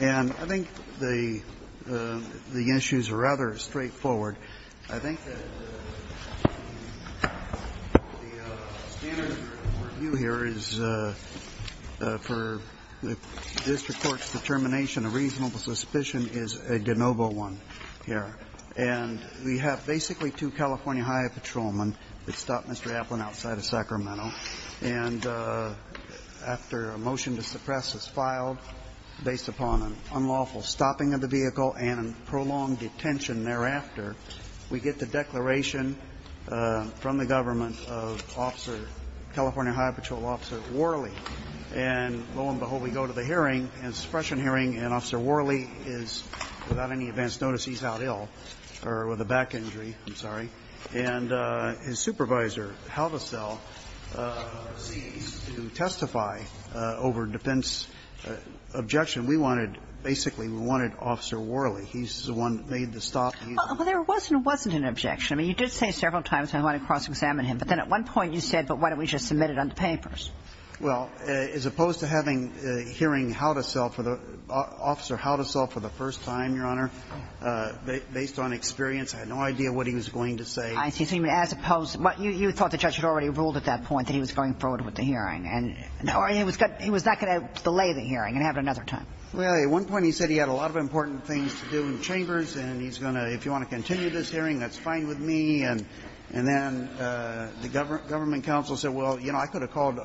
and I think the issues are rather straightforward. I think that the standard review here is for district court's determination, a reasonable suspicion, is a de novo one here. And we have basically two California Highway Patrolmen that stopped Mr. Apeland outside of Sacramento. And after a motion to suppress is filed, based upon an unlawful stopping of the vehicle and a prolonged detention thereafter, we get the declaration from the government of California Highway Patrol Officer Worley. And lo and behold, we go to the hearing, a suppression And his supervisor, Haldasel, ceased to testify over defense objection. We wanted, basically, we wanted Officer Worley. He's the one that made the stop. Well, there was and wasn't an objection. I mean, you did say several times, I want to cross-examine him. But then at one point you said, but why don't we just submit it on the papers? Well, as opposed to having hearing Haldasel for the – Officer Haldasel for the first time, Your Honor, based on experience, I had no idea what he was going to say. I see. So you mean as opposed – you thought the judge had already ruled at that point that he was going forward with the hearing. And – or he was not going to delay the hearing and have it another time. Well, at one point he said he had a lot of important things to do in the chambers and he's going to – if you want to continue this hearing, that's fine with me. And then the government counsel said, well, you know, I could have called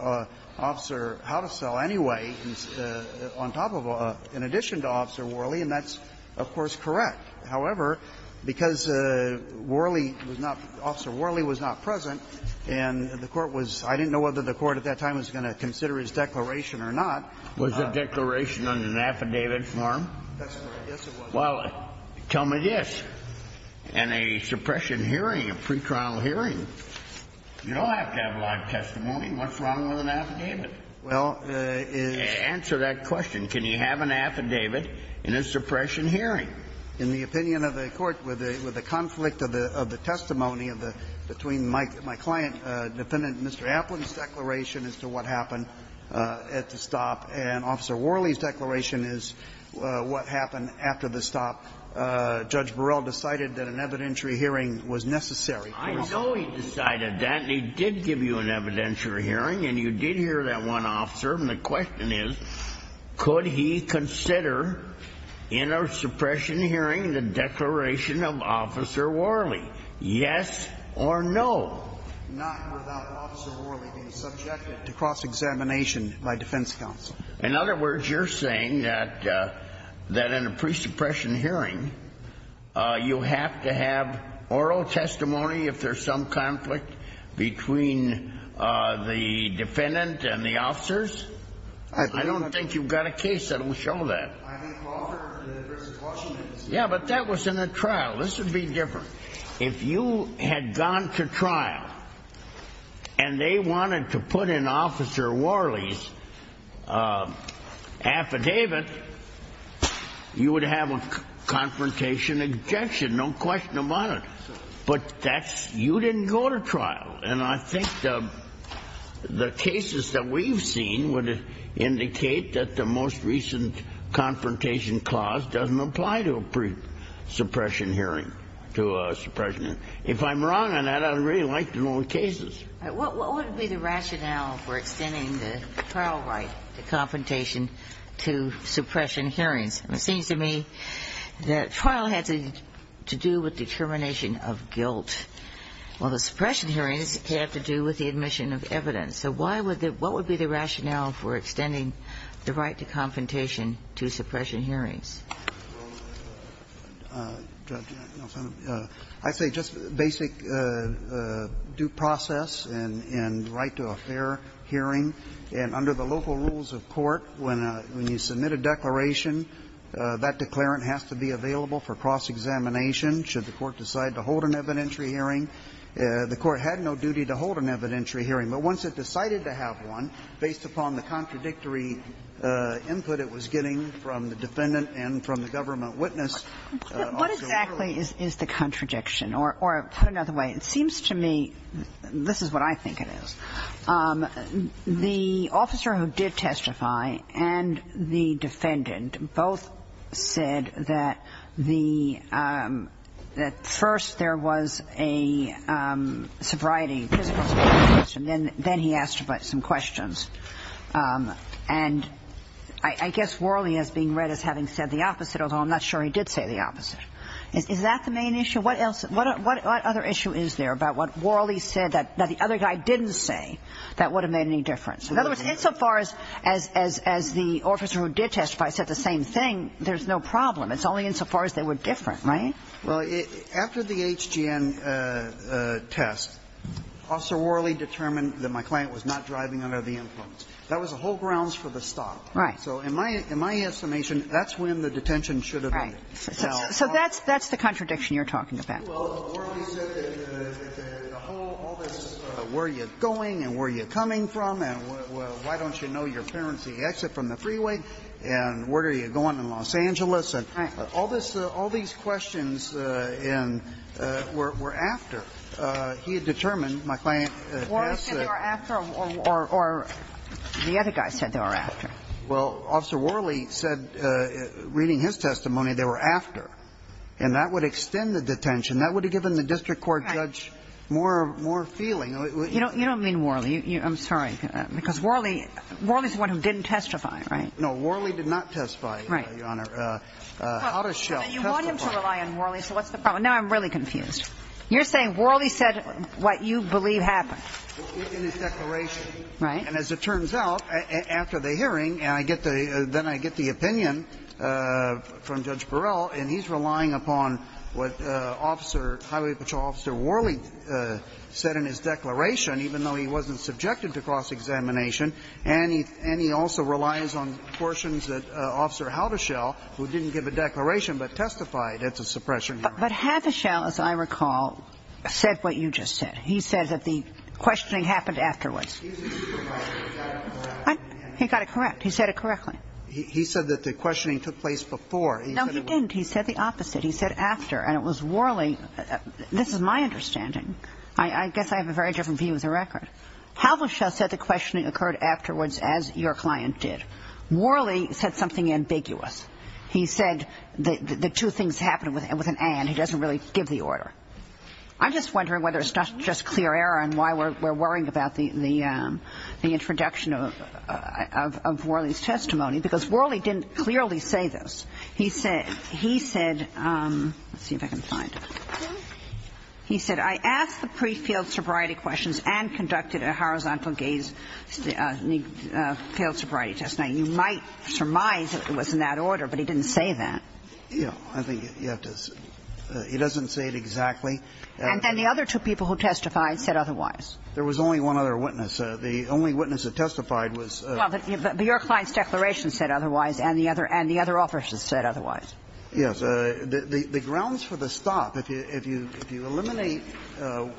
Officer Haldasel anyway on top of – in addition to Officer Worley, and that's, of course, correct. However, because Worley was not – Officer Worley was not present, and the Court was – I didn't know whether the Court at that time was going to consider his declaration or not. Was the declaration on an affidavit form? That's correct. Yes, it was. Well, tell me this. In a suppression hearing, a pretrial hearing, you don't have to have live testimony. What's wrong with an affidavit? Well, it's – Answer that question. Can you have an affidavit in a suppression hearing? In the opinion of the Court, with the conflict of the testimony of the – between my client, defendant Mr. Applin's declaration as to what happened at the stop and Officer Worley's declaration as to what happened after the stop, Judge Burrell decided that an evidentiary hearing was necessary for his – I know he decided that, and he did give you an evidentiary hearing, and you did hear that one officer, and the question is, could he consider in a suppression hearing the declaration of Officer Worley? Yes or no? Not without Officer Worley being subjected to cross-examination by defense counsel. In other words, you're saying that in a pre-suppression hearing, you have to have oral testimony if there's some conflict between the defendant and the officers? I don't think you've got a case that will show that. I mean, Lawford versus Washington. Yeah, but that was in a trial. This would be different. If you had gone to trial, and they wanted to put in Officer Worley's affidavit, you would have a confrontation objection, no question about it. But that's – you didn't go to trial. And I think the cases that we've seen would indicate that the most recent confrontation clause doesn't apply to a pre-suppression hearing, to a suppression hearing. If I'm wrong on that, I'd really like to know the cases. What would be the rationale for extending the trial right to confrontation to suppression hearings? It seems to me that trial had to do with determination of guilt, while the suppression hearings had to do with the admission of evidence. So why would the – what would be the rationale for extending the right to confrontation to suppression hearings? Well, Judge, I say just basic due process and right to a fair hearing. And under the local rules of court, when you submit a declaration, that declarant has to be available for cross-examination should the court decide to hold an evidentiary hearing. The court had no duty to hold an evidentiary hearing. But once it decided to have one, based upon the contradictory input it was getting from the defendant and from the government witness, also you're going to have to hold an evidentiary hearing. But what exactly is the contradiction, or put another way, it seems to me, this is what I think it is. The officer who did testify and the defendant both said that the – that first there was a sobriety, physical sobriety question, then he asked some questions. And I guess Worley is being read as having said the opposite, although I'm not sure he did say the opposite. Is that the main issue? What else – what other issue is there about what Worley said that the other guy didn't say that would have made any difference? In other words, insofar as the officer who did testify said the same thing, there's no problem. It's only insofar as they were different, right? Well, after the HGN test, Officer Worley determined that my client was not driving under the influence. That was the whole grounds for the stop. Right. So in my estimation, that's when the detention should have ended. Right. So that's the contradiction you're talking about. Well, Worley said that the whole – all this, where are you going and where are you coming from, and why don't you know your parents' exit from the freeway, and where are you going in Los Angeles, and all this – all these questions in – were after. He had determined my client – Worley said they were after, or the other guy said they were after. Well, Officer Worley said, reading his testimony, they were after. And that would extend the detention. That would have given the district court judge more feeling. You don't mean Worley. I'm sorry. Because Worley – Worley's the one who didn't testify, right? No, Worley did not testify, Your Honor. Right. Out-of-shelf testifier. But you want him to rely on Worley, so what's the problem? Now I'm really confused. You're saying Worley said what you believe happened. In his declaration. Right. And as it turns out, after the hearing, and I get the – then I get the opinion from Judge Burrell, and he's relying upon what Officer – Highway Patrol Officer Worley said in his declaration, even though he wasn't subjected to cross-examination, and he – and he also relies on portions that Officer Havaschel, who didn't give a declaration but testified at the suppression hearing. But Havaschel, as I recall, said what you just said. He said that the questioning happened afterwards. He got it correct. He said it correctly. He said that the questioning took place before. No, he didn't. He said the opposite. He said after. And it was Worley – this is my understanding. I guess I have a very different view as a record. Havaschel said the questioning occurred afterwards as your client did. Worley said something ambiguous. He said the two things happened with an and. He doesn't really give the order. I'm just wondering whether it's not just clear error and why we're worrying about the introduction of Worley's testimony, because Worley didn't clearly say this. He said – he said – let's see if I can find it. He said, I asked the pre-failed sobriety questions and conducted a horizontal gaze failed sobriety test. You might surmise it was in that order, but he didn't say that. Yeah. I think you have to – he doesn't say it exactly. And then the other two people who testified said otherwise. There was only one other witness. The only witness that testified was – Well, but your client's declaration said otherwise, and the other officers said otherwise. Yes. The grounds for the stop, if you eliminate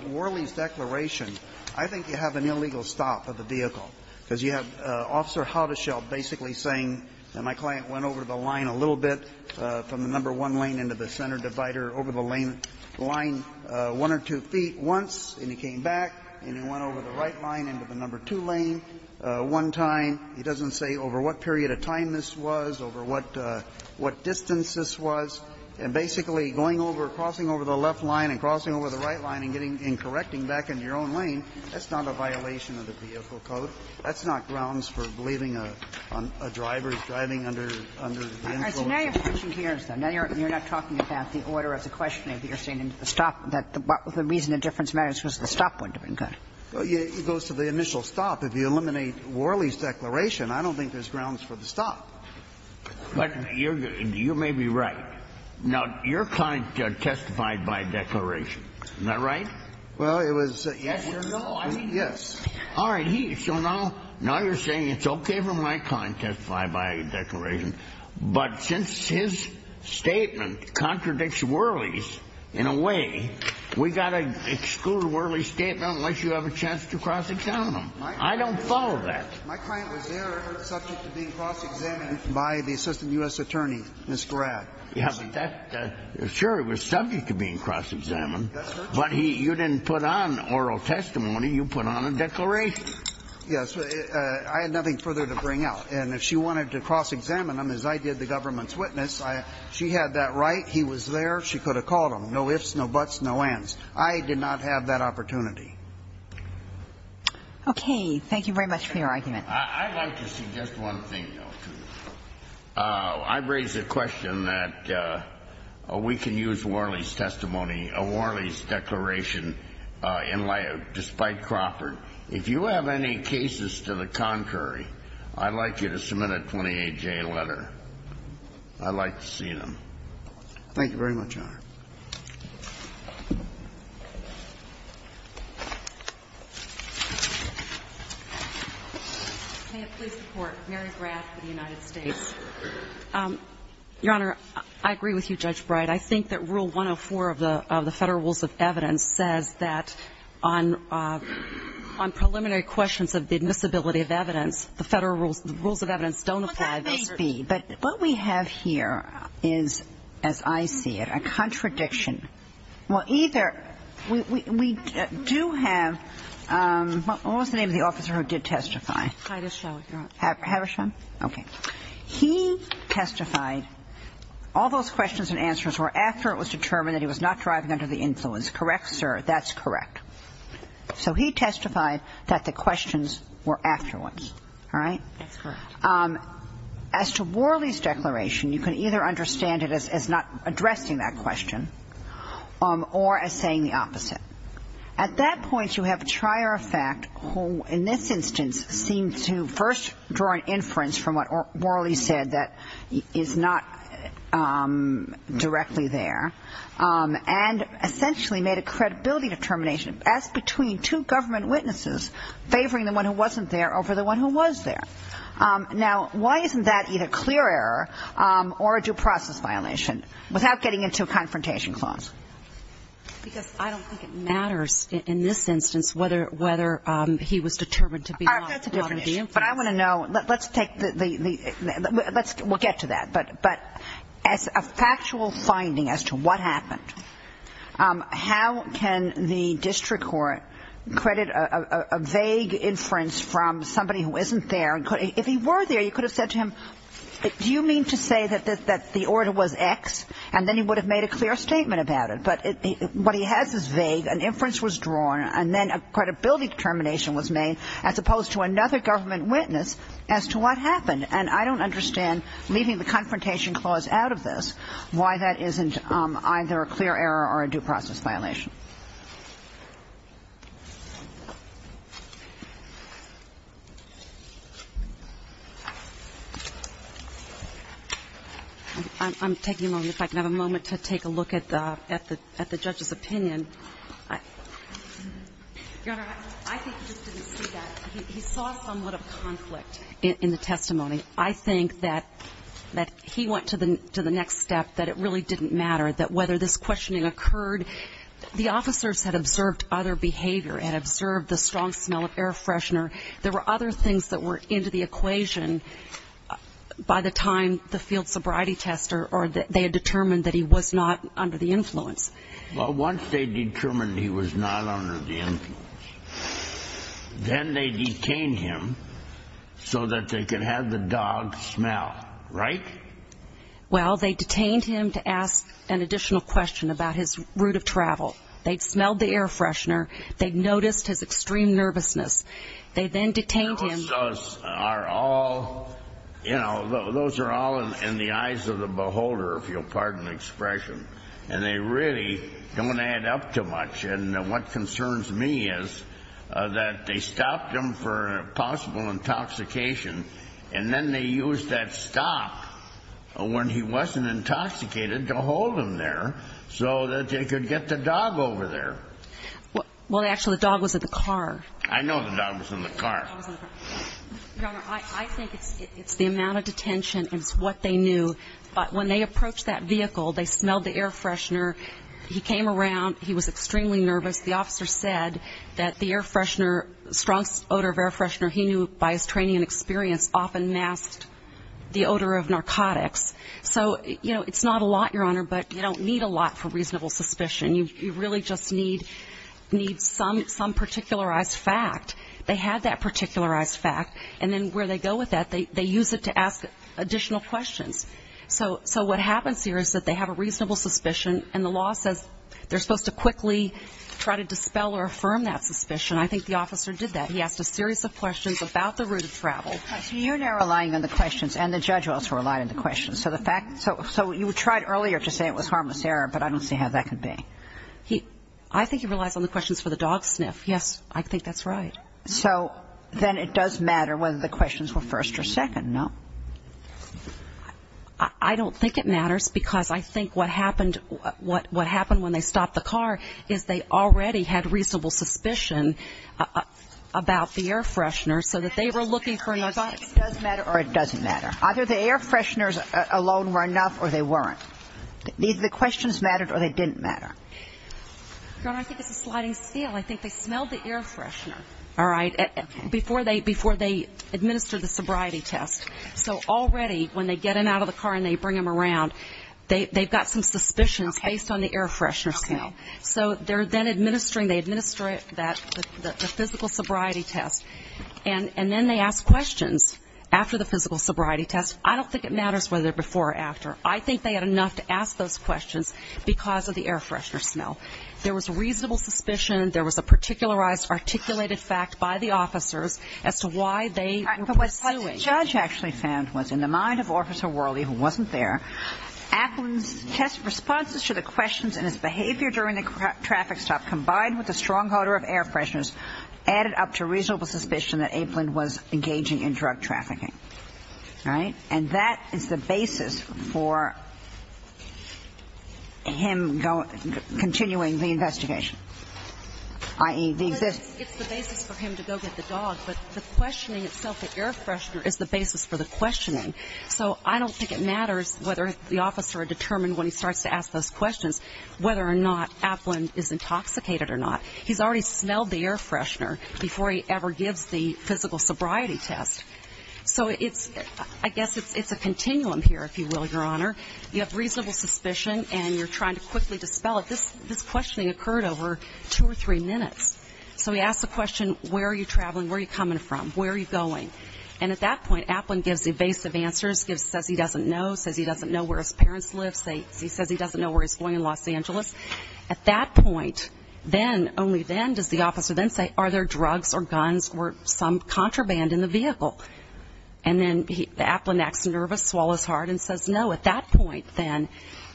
Worley's declaration, I think you have an illegal stop of the vehicle, because you have Officer Haudeschelle basically saying, and my client went over the line a little bit from the number one lane into the center divider, over the lane line one or two feet once, and he came back, and he went over the right line into the number two lane one time. He doesn't say over what period of time this was, over what distance this was. And basically, going over, crossing over the left line and crossing over the right line and getting – and correcting back into your own lane, that's not a violation of the vehicle code. That's not grounds for believing a driver is driving under the influence of the vehicle. So now you're pushing here, so now you're not talking about the order of the questioning. You're saying the stop – that the reason the difference matters was the stop wouldn't have been good. Well, it goes to the initial stop. If you eliminate Worley's declaration, I don't think there's grounds for the stop. But you're – you may be right. Now, your client testified by declaration. Isn't that right? Well, it was – yes or no. I mean – yes. All right. So now – now you're saying it's okay for my client to testify by declaration, but since his statement contradicts Worley's in a way, we've got to exclude Worley's statement unless you have a chance to cross-examine him. I don't follow that. My client was there, subject to being cross-examined by the assistant U.S. attorney, Ms. Garab. Yeah, but that – sure, he was subject to being cross-examined. But he – you didn't put on oral testimony. You put on a declaration. Yes. I had nothing further to bring out. And if she wanted to cross-examine him, as I did the government's witness, I – she had that right. He was there. She could have called him. No ifs, no buts, no ands. I did not have that opportunity. Okay. Thank you very much for your argument. I'd like to suggest one thing, though, to you. I raise the question that we can use Worley's testimony, Worley's declaration in light of – despite Crawford. If you have any cases to the contrary, I'd like you to submit a 28-J letter. I'd like to see them. Thank you very much, Your Honor. May it please the Court. Mary Graf for the United States. Your Honor, I agree with you, Judge Brey. I think that Rule 104 of the Federal Rules of Evidence says that on preliminary questions of the admissibility of evidence, the Federal Rules – the Rules of Evidence don't apply this – Well, that may be. But what we have here is, as I see it, a contradiction. Well, either – we do have – what was the name of the officer who did testify? Havisham, Your Honor. Havisham? Okay. He testified all those questions and answers were after it was determined that he was not driving under the influence, correct, sir? That's correct. So he testified that the questions were afterwards, all right? That's correct. As to Worley's declaration, you can either understand it as not addressing that question or as saying the opposite. At that point, you have a trier of fact who, in this instance, seemed to first draw an inference from what Worley said that is not directly there and essentially made a credibility determination as between two government witnesses favoring the one who wasn't there over the one who was there. Now, why isn't that either clear error or a due process violation without getting into a confrontation clause? Because I don't think it matters in this instance whether he was determined to be not under the influence. But I want to know – let's take the – we'll get to that. But as a factual finding as to what happened, how can the district court credit a vague inference from somebody who isn't there? If he were there, you could have said to him, do you mean to say that the order was X? And then he would have made a clear statement about it. But what he has is vague. An inference was drawn. And then a credibility determination was made as opposed to another government witness as to what happened. And I don't understand, leaving the confrontation clause out of this, why that isn't either a clear error or a due process violation. I'm taking a moment. If I can have a moment to take a look at the judge's opinion. Your Honor, I think he just didn't see that. He saw somewhat of conflict in the testimony. I think that he went to the next step, that it really didn't matter, that whether this questioning occurred – the officers had observed other behavior, had observed the strong smell of air freshener. There were other things that were into the equation by the time the field sobriety tester or they had determined that he was not under the influence. Well, once they determined he was not under the influence, then they detained him so that they could have the dog smell, right? Well, they detained him to ask an additional question about his route of travel. They'd smelled the air freshener. They'd noticed his extreme nervousness. They then detained him. Those are all, you know, those are all in the eyes of the beholder, if you'll pardon the expression. And they really don't add up too much. And what concerns me is that they stopped him for possible intoxication, and then they used that stop when he wasn't intoxicated to hold him there so that they could get the dog over there. Well, actually, the dog was in the car. I know the dog was in the car. Your Honor, I think it's the amount of detention. It's what they knew. But when they approached that vehicle, they smelled the air freshener. He came around. He was extremely nervous. The officer said that the air freshener, strong odor of air freshener, he knew by his training and experience, often masked the odor of narcotics. So, you know, it's not a lot, Your Honor, but you don't need a lot for reasonable suspicion. You really just need some particularized fact. They had that particularized fact, and then where they go with that, they use it to ask additional questions. So what happens here is that they have a reasonable suspicion, and the law says they're supposed to quickly try to dispel or affirm that suspicion. I think the officer did that. He asked a series of questions about the route of travel. So you're now relying on the questions, and the judge also relied on the questions. So the fact so you tried earlier to say it was harmless error, but I don't see how that could be. He I think he relies on the questions for the dog sniff. Yes, I think that's right. So then it does matter whether the questions were first or second. No, I don't think it matters, because I think what happened what what happened when they stopped the car is they already had reasonable suspicion about the air freshener, so that they were looking for narcotics. It does matter, or it doesn't matter. Either the air fresheners alone were enough, or they weren't. The questions mattered, or they didn't matter. Your Honor, I think it's a sliding scale. I think they smelled the air freshener. All right. Before they before they administer the sobriety test. So already when they get in out of the car and they bring them around, they've got some suspicions based on the air freshener smell. So they're then administering. They administer that the physical sobriety test, and then they ask questions after the physical sobriety test. I don't think it matters whether before or after. I think they had enough to ask those questions because of the air freshener smell. There was reasonable suspicion. There was a particularized articulated fact by the officers as to why they were pursuing. Judge actually found was in the mind of Officer Worley, who wasn't there, Aplin's test responses to the questions and his behavior during the traffic stop, combined with a strong odor of air fresheners, added up to reasonable suspicion that Aplin was engaging in drug trafficking. All right. And that is the basis for him continuing the investigation. I mean, it's the basis for him to go get the dog. But the questioning itself, the air freshener is the basis for the questioning. So I don't think it matters whether the officer determined when he starts to ask those questions, whether or not Aplin is intoxicated or not. He's already smelled the air freshener before he ever gives the physical sobriety test. So it's I guess it's a continuum here, if you will, Your Honor. You have reasonable suspicion and you're trying to quickly dispel it. This this questioning occurred over two or three minutes. So he asked the question, where are you traveling? Where are you coming from? Where are you going? And at that point, Aplin gives evasive answers, says he doesn't know, says he doesn't know where his parents live. Say he says he doesn't know where he's going in Los Angeles. At that point, then only then does the officer then say, are there drugs or guns or some contraband in the vehicle? And then Aplin acts nervous, swallows hard, and says no. At that point, then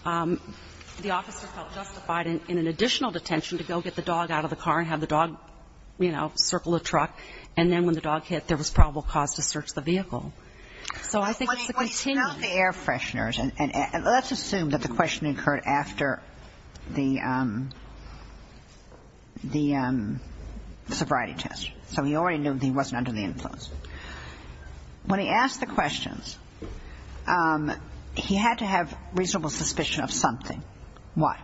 the officer felt justified in an additional detention to go get the dog out of the car and have the dog, you know, circle the truck. And then when the dog hit, there was probable cause to search the vehicle. So I think it's a continuum. When he smelled the air fresheners, and let's assume that the questioning occurred after the the sobriety test. So he already knew he wasn't under the influence. When he asked the questions, he had to have reasonable suspicion of something. Why?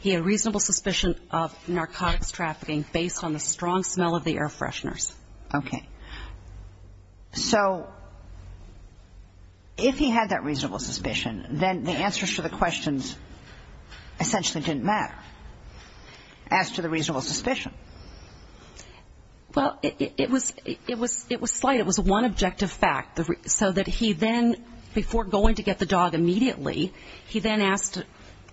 He had reasonable suspicion of narcotics trafficking based on the strong smell of the air fresheners. Okay. So if he had that reasonable suspicion, then the answers to the questions essentially didn't matter. As to the reasonable suspicion. Well, it was it was it was slight. It was one objective fact, so that he then, before going to get the dog immediately, he then asked,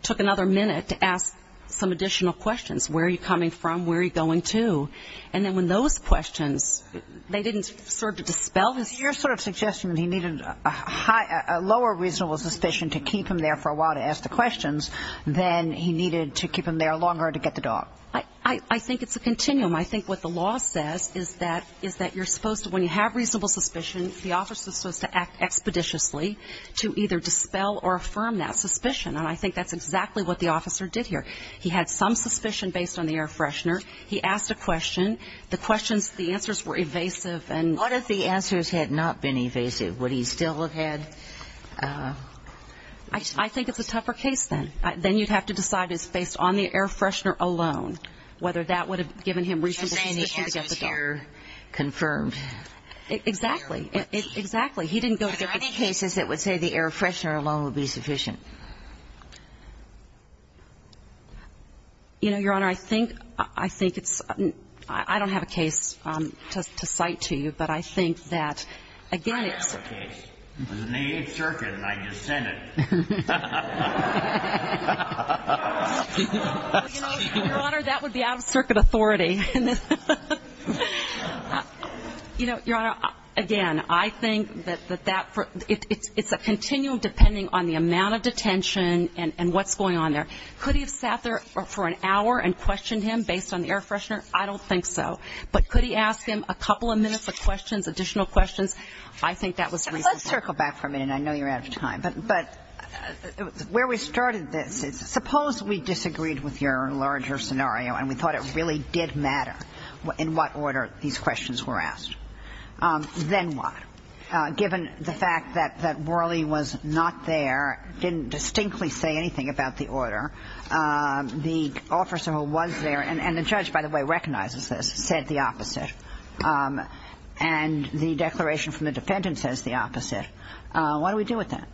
took another minute to ask some additional questions. Where are you coming from? Where are you going to? And then when those questions, they didn't serve to dispel his. Your sort of suggestion that he needed a high, a lower reasonable suspicion to keep him there for a while to ask the questions, then he needed to keep him there longer to get the dog. I think it's a continuum. I think what the law says is that is that you're supposed to when you have reasonable suspicion, the officer is supposed to act expeditiously to either dispel or affirm that suspicion. And I think that's exactly what the officer did here. He had some suspicion based on the air freshener. He asked a question. The questions, the answers were evasive. And what if the answers had not been evasive? Would he still have had? I think it's a tougher case then. Then you'd have to decide is based on the air freshener alone, whether that would have given him reasonable suspicion to get the dog. I'm saying the answer is here confirmed. Exactly. Exactly. He didn't go to the cases that would say the air freshener alone would be sufficient. You know, Your Honor, I think it's, I don't have a case to cite to you, but I think that, again, it's. I have a case. It was in the Eighth Circuit and I just sent it. Your Honor, that would be out of circuit authority. You know, Your Honor, again, I think that that it's a continuum depending on the amount of detention and what's going on there. Could he have sat there for an hour and questioned him based on the air freshener? I don't think so. But could he ask him a couple of minutes of questions, additional questions? Let's circle back for a minute. I know you're out of time, but where we started this, suppose we disagreed with your larger scenario and we thought it really did matter in what order these questions were asked. Then what? Given the fact that Worley was not there, didn't distinctly say anything about the order, the officer who was there, and the judge, by the way, recognizes this, said the opposite. And the declaration from the defendant says the opposite. What do we do with that?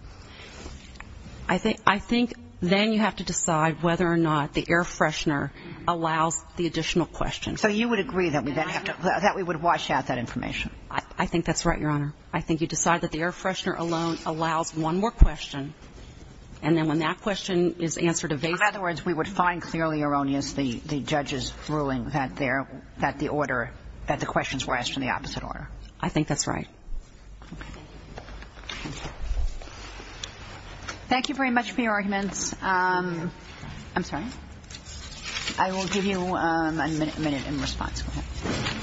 I think then you have to decide whether or not the air freshener allows the additional questions. So you would agree that we would wash out that information? I think that's right, Your Honor. I think you decide that the air freshener alone allows one more question, and then when that question is answered evasively. In other words, we would find clearly erroneous the judge's ruling that the order that the questions were asked in the opposite order. I think that's right. Thank you very much for your arguments. I'm sorry. I will give you a minute in response. Go ahead.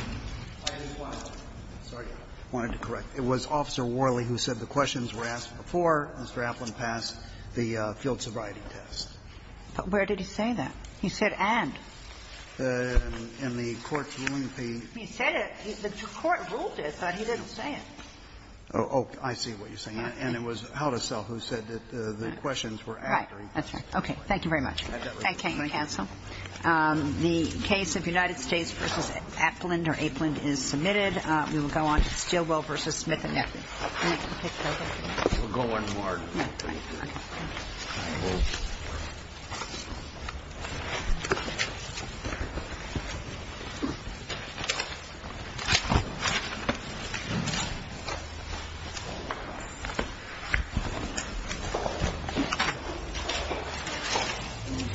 I just wanted to correct. It was Officer Worley who said the questions were asked before Mr. Applin passed the field sobriety test. But where did he say that? He said and. In the court's ruling, the. He said it. The court ruled it, but he didn't say it. Oh, I see what you're saying. And it was Haldisell who said that the questions were asked. Right. That's right. Okay. Thank you very much. Thank you, counsel. The case of United States v. Applin or Aplin is submitted. We will go on to Stilwell v. Smith and Nepley. We'll go one more.